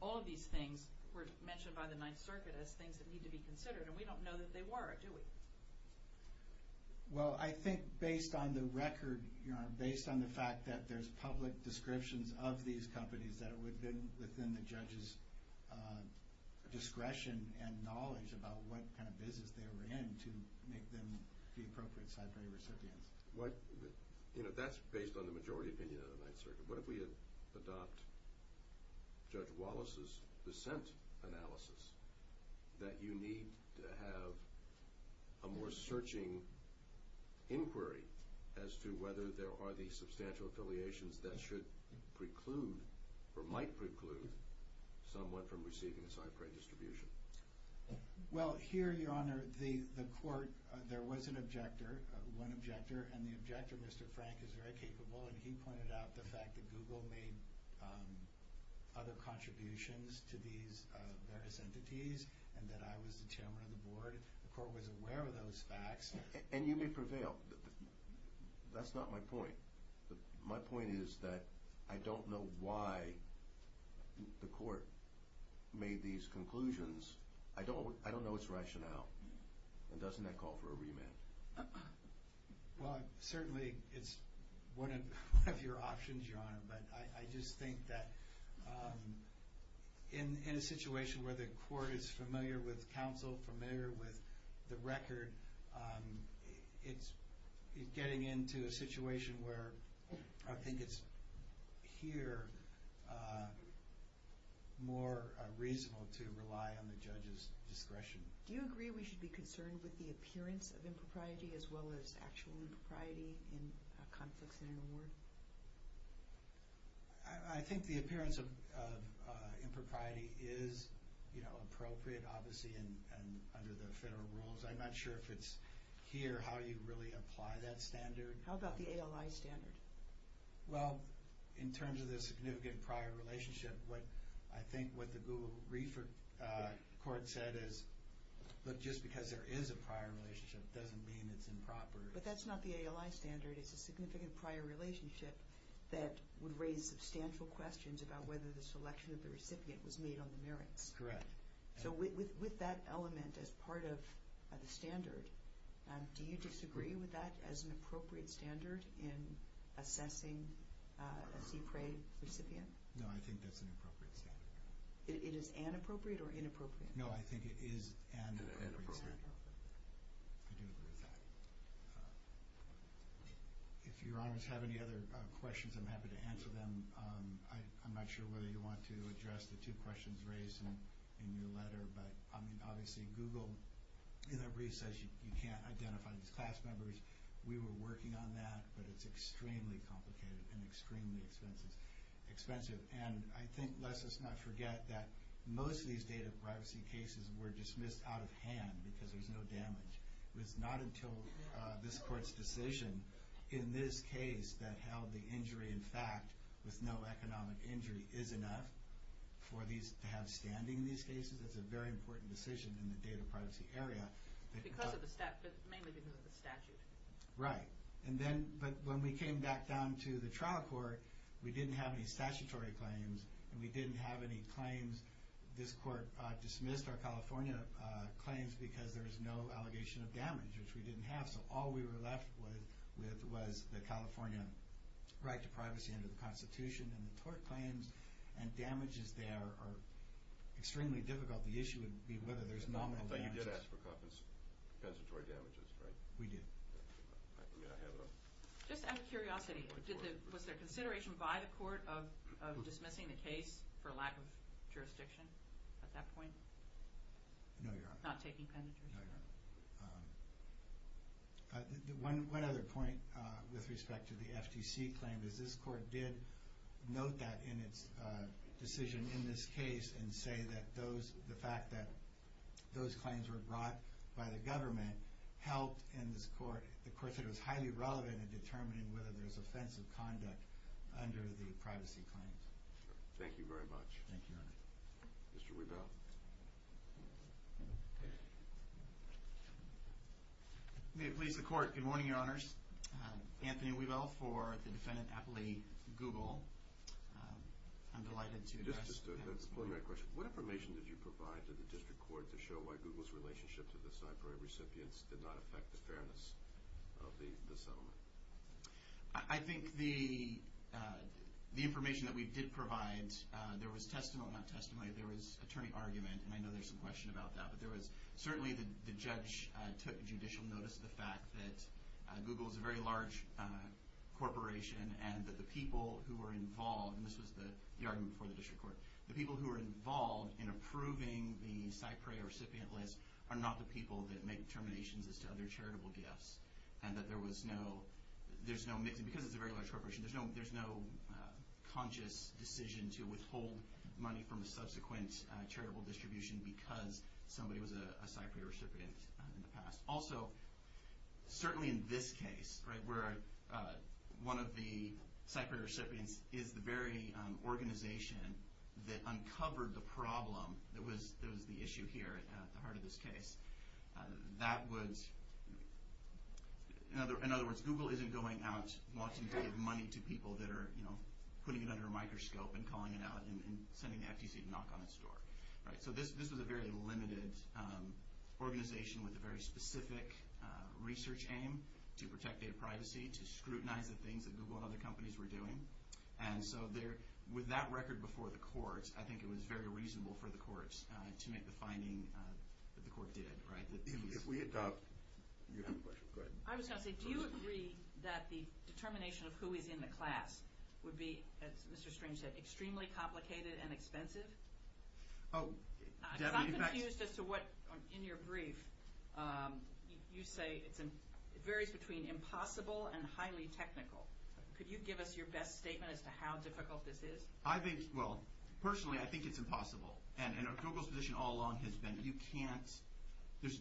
All of these things were mentioned by the Ninth Circuit as things that need to be considered, and we don't know that they were, do we? Well, I think based on the record, Your Honor, based on the fact that there's public descriptions of these companies, that it would have been within the judge's discretion and knowledge about what kind of business they were in to make them the appropriate Cypre recipients. You know, that's based on the majority opinion of the Ninth Circuit. What if we had adopted Judge Wallace's dissent analysis, that you need to have a more searching inquiry as to whether there are these substantial affiliations that should preclude or might preclude someone from receiving a Cypre distribution? Well, here, Your Honor, the court, there was an objector, one objector, and the objector, Mr. Frank, is very capable, and he pointed out the fact that Google made other contributions to these various entities and that I was the chairman of the board. The court was aware of those facts. And you may prevail. That's not my point. My point is that I don't know why the court made these conclusions. I don't know its rationale. And doesn't that call for a remand? Well, certainly it's one of your options, Your Honor, but I just think that in a situation where the court is familiar with counsel, familiar with the record, it's getting into a situation where I think it's here more reasonable to rely on the judge's discretion. Do you agree we should be concerned with the appearance of impropriety as well as actual impropriety in conflicts in an award? I think the appearance of impropriety is, you know, appropriate, obviously, and under the federal rules. I'm not sure if it's here how you really apply that standard. How about the ALI standard? Well, in terms of the significant prior relationship, I think what the Google Court said is, look, just because there is a prior relationship doesn't mean it's improper. But that's not the ALI standard. It's a significant prior relationship that would raise substantial questions about whether the selection of the recipient was made on the merits. Correct. So with that element as part of the standard, do you disagree with that as an appropriate standard in assessing a CPRA recipient? No, I think that's an appropriate standard. It is inappropriate or inappropriate? No, I think it is an appropriate standard. I do agree with that. If Your Honors have any other questions, I'm happy to answer them. I'm not sure whether you want to address the two questions raised by the person in your letter. But, I mean, obviously Google, in that brief, says you can't identify these class members. We were working on that, but it's extremely complicated and extremely expensive. And I think, lest us not forget, that most of these data privacy cases were dismissed out of hand because there's no damage. It was not until this Court's decision in this case that held the injury, in fact, with no economic injury, is enough to have standing in these cases. It's a very important decision in the data privacy area. Mainly because of the statute. Right. But when we came back down to the trial court, we didn't have any statutory claims, and we didn't have any claims. This Court dismissed our California claims because there's no allegation of damage, which we didn't have. So all we were left with was the California right to privacy under the Constitution. And the tort claims and damages there are extremely difficult. The issue would be whether there's nominal damages. But you did ask for compensatory damages, right? We did. Just out of curiosity, was there consideration by the Court of dismissing the case for lack of jurisdiction at that point? No, Your Honor. Not taking penitentiary? No, Your Honor. One other point with respect to the FTC claim, is this Court did note that in its decision in this case and say that the fact that those claims were brought by the government helped in this Court. The Court said it was highly relevant in determining whether there's offensive conduct under the privacy claims. Thank you very much. Thank you, Your Honor. Mr. Rebell. May it please the Court. Good morning, Your Honors. Anthony Rebell for the Defendant Appley, Google. I'm delighted to have this morning. Just to explain my question, what information did you provide to the District Court to show why Google's relationship to the Cypher recipients did not affect the fairness of the settlement? I think the information that we did provide, there was testimony, not testimony, there was attorney argument, and I know there's some question about that. But there was certainly the judge took judicial notice of the fact that Google is a very large corporation and that the people who were involved, and this was the argument before the District Court, the people who were involved in approving the CyPray recipient list are not the people that make determinations as to other charitable gifts. And that there was no, there's no, because it's a very large corporation, there's no conscious decision to withhold money from a subsequent charitable distribution because somebody was a CyPray recipient in the past. Also, certainly in this case, right, where one of the CyPray recipients is the very organization that uncovered the problem that was the issue here at the heart of this case, that was, in other words, Google isn't going out wanting to give money to people that are, you know, putting it under a microscope and calling it out and sending the FTC to knock on its door. Right, so this was a very limited organization with a very specific research aim to protect data privacy, to scrutinize the things that Google and other companies were doing. And so there, with that record before the courts, I think it was very reasonable for the courts to make the finding that the court did, right. If we adopt, you have a question, go ahead. I was going to say, do you agree that the determination of who is in the class would be, as Mr. Strange said, extremely complicated and expensive? I'm confused as to what, in your brief, you say it varies between impossible and highly technical. Could you give us your best statement as to how difficult this is? I think, well, personally, I think it's impossible. And Google's position all along has been you can't,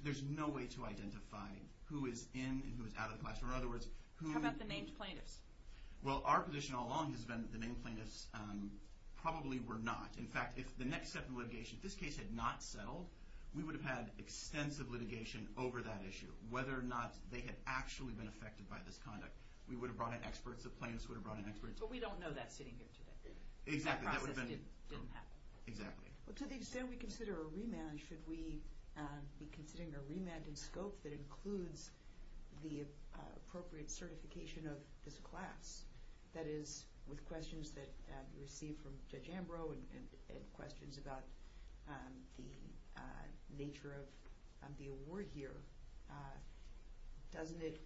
there's no way to identify who is in and who is out of the classroom. In other words, who... How about the named plaintiffs? Well, our position all along has been the named plaintiffs probably were not. In fact, if the next step in litigation, if this case had not settled, we would have had extensive litigation over that issue. Whether or not they had actually been affected by this conduct, we would have brought in experts, the plaintiffs would have brought in experts. But we don't know that sitting here today. Exactly. That process didn't happen. Exactly. Well, to the extent we consider a remand, should we be considering a remand in scope that includes the appropriate certification of this class? That is, with questions that we received from Judge Ambrose and questions about the nature of the award here, doesn't it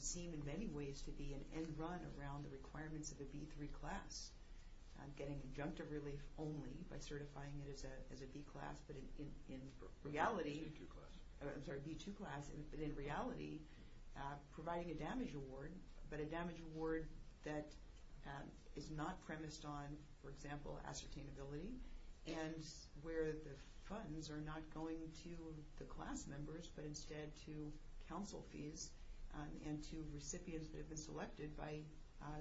seem in many ways to be an end run around the requirements of a B3 class? Getting injunctive relief only by certifying it as a B class, but in reality... B2 class. I'm sorry, B2 class, but in reality, providing a damage award, but a damage award that is not premised on, for example, ascertainability, and where the funds are not going to the class members, but instead to counsel fees and to recipients that have been selected by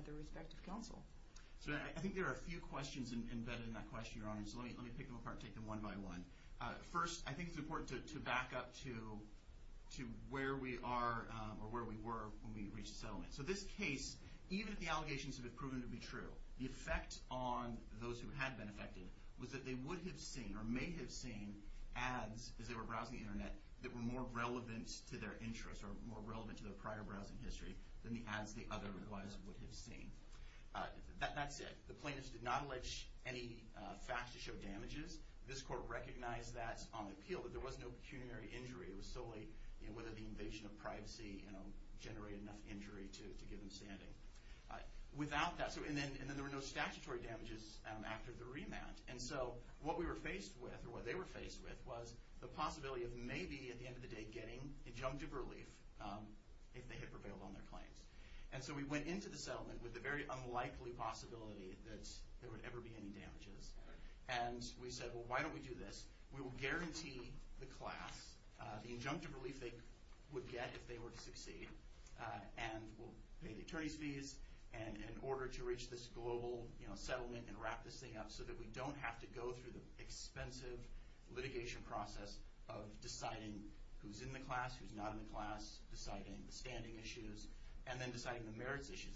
their respective counsel. I think there are a few questions embedded in that question, Your Honor, so let me pick them apart and take them one by one. First, I think it's important to back up to where we are or where we were when we reached settlement. So this case, even if the allegations have been proven to be true, the effect on those who had been affected was that they would have seen or may have seen ads as they were browsing the Internet that were more relevant to their interests or more relevant to their prior browsing history than the ads the other advisers would have seen. That's it. The plaintiffs did not allege any facts to show damages. This court recognized that on the appeal, that there was no pecuniary injury. It was solely whether the invasion of privacy generated enough injury to give them standing. And then there were no statutory damages after the remand. And so what we were faced with, or what they were faced with, was the possibility of maybe, at the end of the day, getting injunctive relief if they had prevailed on their claims. And so we went into the settlement with the very unlikely possibility that there would ever be any damages. And we said, well, why don't we do this? We will guarantee the class the injunctive relief they would get if they were to succeed, and we'll pay the attorney's fees in order to reach this global settlement and wrap this thing up so that we don't have to go through the expensive litigation process of deciding who's in the class, who's not in the class, deciding the standing issues, and then deciding the merits issues.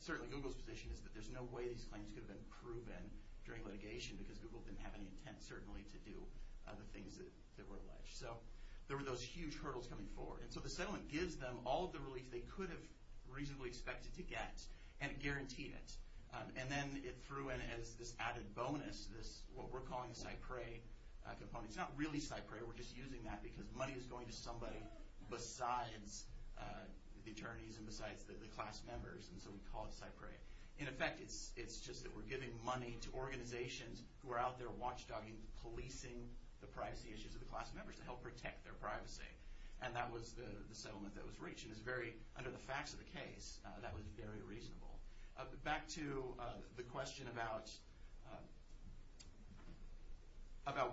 Certainly Google's position is that there's no way these claims could have been proven during litigation because Google didn't have any intent, certainly, to do the things that were alleged. So there were those huge hurdles coming forward. And so the settlement gives them all of the relief they could have reasonably expected to get, and it guaranteed it. And then it threw in as this added bonus what we're calling a Cypre component. It's not really Cypre. We're just using that because money is going to somebody besides the attorneys and besides the class members, and so we call it Cypre. In effect, it's just that we're giving money to organizations who are out there watchdogging, policing the privacy issues of the class members to help protect their privacy. And that was the settlement that was reached. And under the facts of the case, that was very reasonable. Back to the question about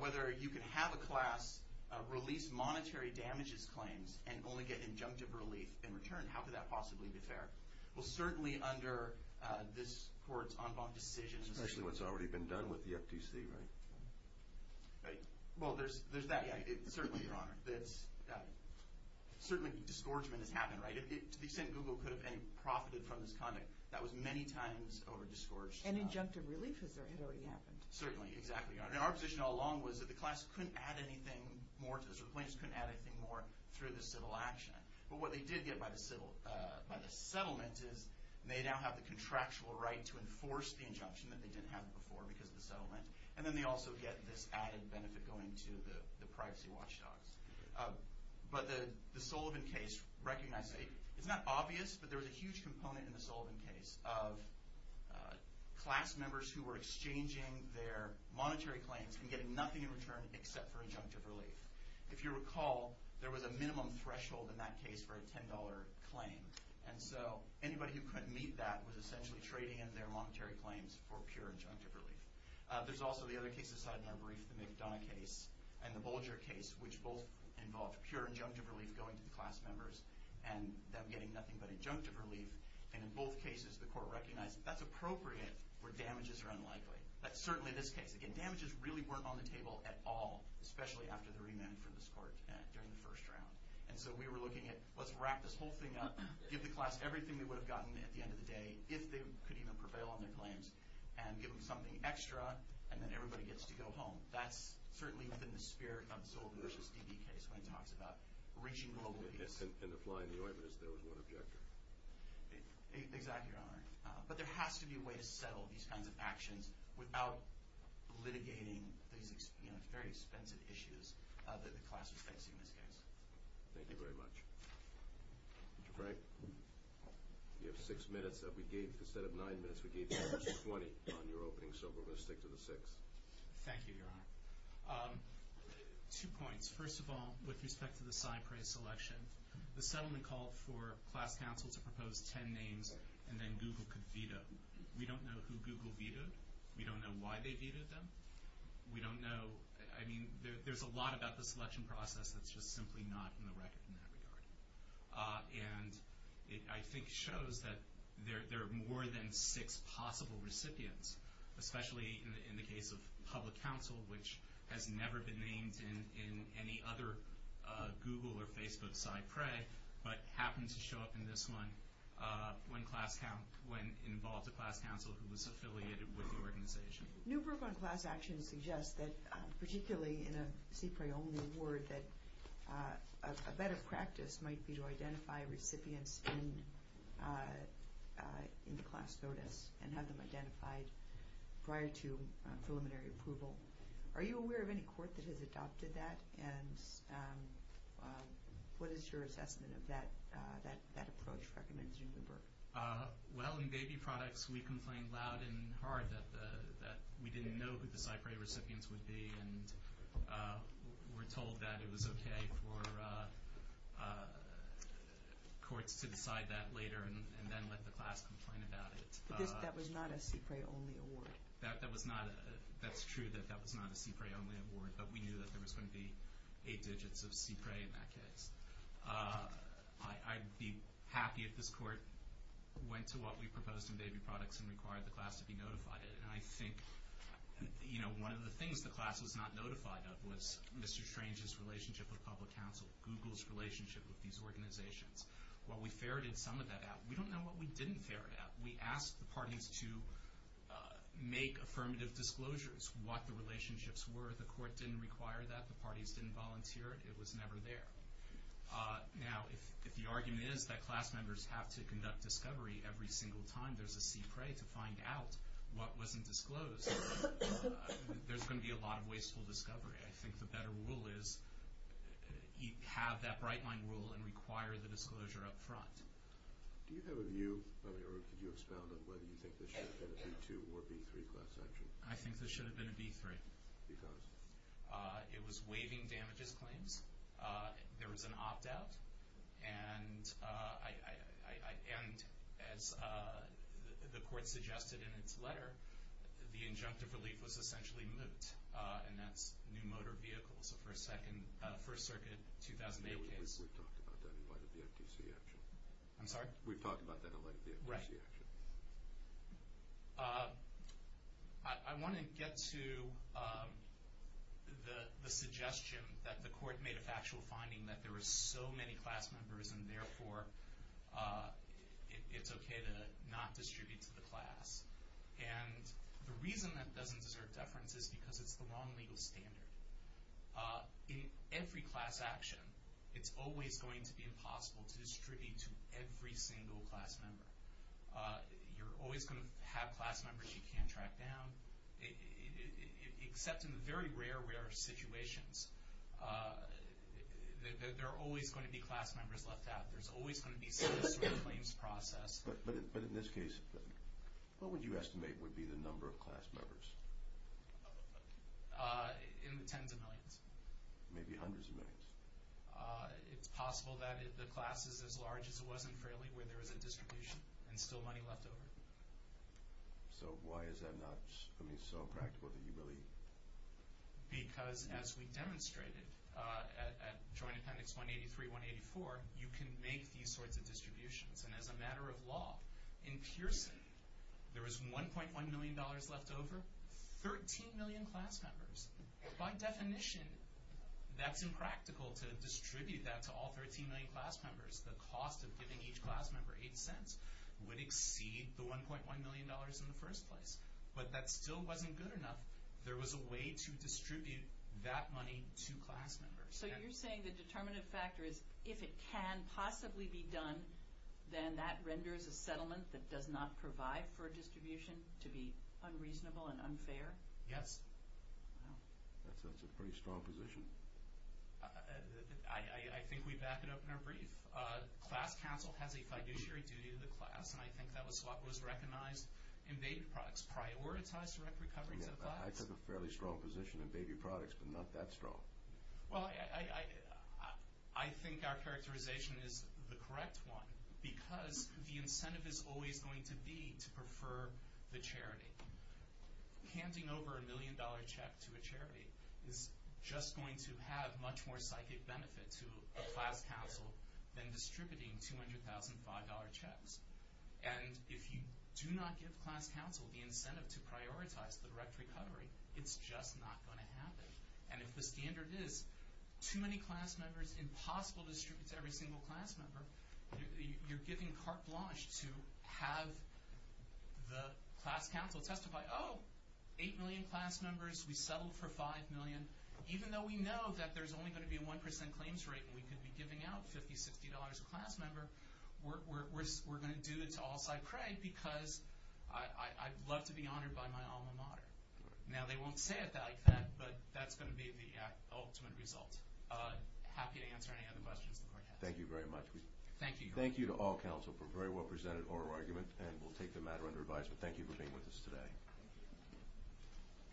whether you can have a class release monetary damages claims and only get injunctive relief in return. How could that possibly be fair? Well, certainly under this court's en banc decision. Especially what's already been done with the FTC, right? Right. Well, there's that, yeah. Certainly, Your Honor. Certainly, disgorgement has happened, right? To the extent Google could have profited from this conduct, that was many times over-discouraged. And injunctive relief has already happened. Certainly, exactly, Your Honor. And our position all along was that the class couldn't add anything more to this, or the plaintiffs couldn't add anything more through the civil action. But what they did get by the settlement is, they now have the contractual right to enforce the injunction that they didn't have before because of the settlement. And then they also get this added benefit going to the privacy watchdogs. But the Sullivan case recognized, it's not obvious, but there was a huge component in the Sullivan case of class members who were exchanging their monetary claims and getting nothing in return except for injunctive relief. If you recall, there was a minimum threshold in that case for a $10 claim. And so anybody who couldn't meet that was essentially trading in their monetary claims for pure injunctive relief. There's also the other cases cited in our brief, the McDonough case and the Bolger case, which both involved pure injunctive relief going to the class members and them getting nothing but injunctive relief. And in both cases, the court recognized that's appropriate where damages are unlikely. That's certainly this case. Again, damages really weren't on the table at all, especially after the remand from this court during the first round. And so we were looking at, let's wrap this whole thing up, give the class everything they would have gotten at the end of the day, if they could even prevail on their claims, and give them something extra, and then everybody gets to go home. That's certainly within the spirit of the Sullivan v. DB case when it talks about reaching global ease. And applying the ointment, as though, is one objective. Exactly, Your Honor. But there has to be a way to settle these kinds of actions without litigating these very expensive issues that the class is facing in this case. Thank you very much. Mr. Frank? You have six minutes. Instead of nine minutes, we gave you 20 on your opening, so we're going to stick to the six. Thank you, Your Honor. Two points. First of all, with respect to the cypress election, the settlement called for class counsel to propose 10 names and then Google could veto. We don't know who Google vetoed. We don't know why they vetoed them. We don't know... I mean, there's a lot about the selection process that's just simply not in the record in that regard. And it, I think, shows that there are more than six possible recipients, especially in the case of public counsel, which has never been named in any other Google or Facebook side prey, but happened to show up in this one when involved a class counsel who was affiliated with the organization. New proof on class action suggests that, particularly in a CPRE-only award, that a better practice might be to identify recipients in the class notice and have them identified prior to preliminary approval. Are you aware of any court that has adopted that? And what is your assessment of that approach recommended in the book? Well, in Baby Products, we complained loud and hard that we didn't know who the side prey recipients would be and were told that it was okay for courts to decide that later and then let the class complain about it. But that was not a CPRE-only award. That was not. That's true that that was not a CPRE-only award, but we knew that there was going to be eight digits of CPRE in that case. I'd be happy if this court went to what we proposed in Baby Products and required the class to be notified. And I think one of the things the class was not notified of was Mr. Strange's relationship with public counsel, Google's relationship with these organizations. While we ferreted some of that out, we don't know what we didn't ferret out. We asked the parties to make affirmative disclosures, what the relationships were. The court didn't require that. The parties didn't volunteer it. It was never there. Now, if the argument is that class members have to conduct discovery every single time there's a CPRE to find out what wasn't disclosed, there's going to be a lot of wasteful discovery. I think the better rule is have that bright-line rule and require the disclosure up front. Do you have a view, or could you expound on whether you think this should have been a B2 or B3 class action? I think this should have been a B3. Because? It was waiving damages claims. There was an opt-out. And as the court suggested in its letter, the injunctive relief was essentially moot, and that's new motor vehicles for a First Circuit 2008 case. We talked about that in light of the FTC action. I'm sorry? We talked about that in light of the FTC action. Right. I want to get to the suggestion that the court made a factual finding that there were so many class members and, therefore, it's okay to not distribute to the class. And the reason that doesn't deserve deference is because it's the wrong legal standard. In every class action, it's always going to be impossible to distribute to every single class member. You're always going to have class members you can't track down, except in very rare, rare situations. There are always going to be class members left out. There's always going to be some sort of claims process. But in this case, what would you estimate would be the number of class members? In the tens of millions. Maybe hundreds of millions. It's possible that the class is as large as it was in Fraley, where there was a distribution and still money left over. So why is that not something so practical that you believe? Because, as we demonstrated at Joint Appendix 183, 184, you can make these sorts of distributions. And as a matter of law, in Pearson, there was $1.1 million left over, 13 million class members. By definition, that's impractical to distribute that to all 13 million class members. The cost of giving each class member $0.08 would exceed the $1.1 million in the first place. But that still wasn't good enough. There was a way to distribute that money to class members. So you're saying the determinative factor is, if it can possibly be done, then that renders a settlement that does not provide for a distribution to be unreasonable and unfair? Yes. Wow. That's a pretty strong position. I think we back it up in our brief. Class counsel has a fiduciary duty to the class, and I think that was what was recognized in baby products. Prioritize direct recovery to the class. I took a fairly strong position in baby products, but not that strong. Well, I think our characterization is the correct one, because the incentive is always going to be to prefer the charity. Handing over a million-dollar check to a charity is just going to have much more psychic benefit to a class counsel than distributing $200,005 checks. And if you do not give class counsel the incentive to prioritize direct recovery, it's just not going to happen. And if the standard is too many class members, impossible to distribute to every single class member, you're giving carte blanche to have the class counsel testify, oh, 8 million class members, we settled for 5 million. Even though we know that there's only going to be a 1% claims rate and we could be giving out $50, $60 a class member, we're going to do it to all-side credit because I'd love to be honored by my alma mater. Now, they won't say it like that, but that's going to be the ultimate result. Happy to answer any other questions the Court has. Thank you very much. Thank you. Thank you to all counsel for a very well-presented oral argument, and we'll take the matter under advisement. Thank you for being with us today.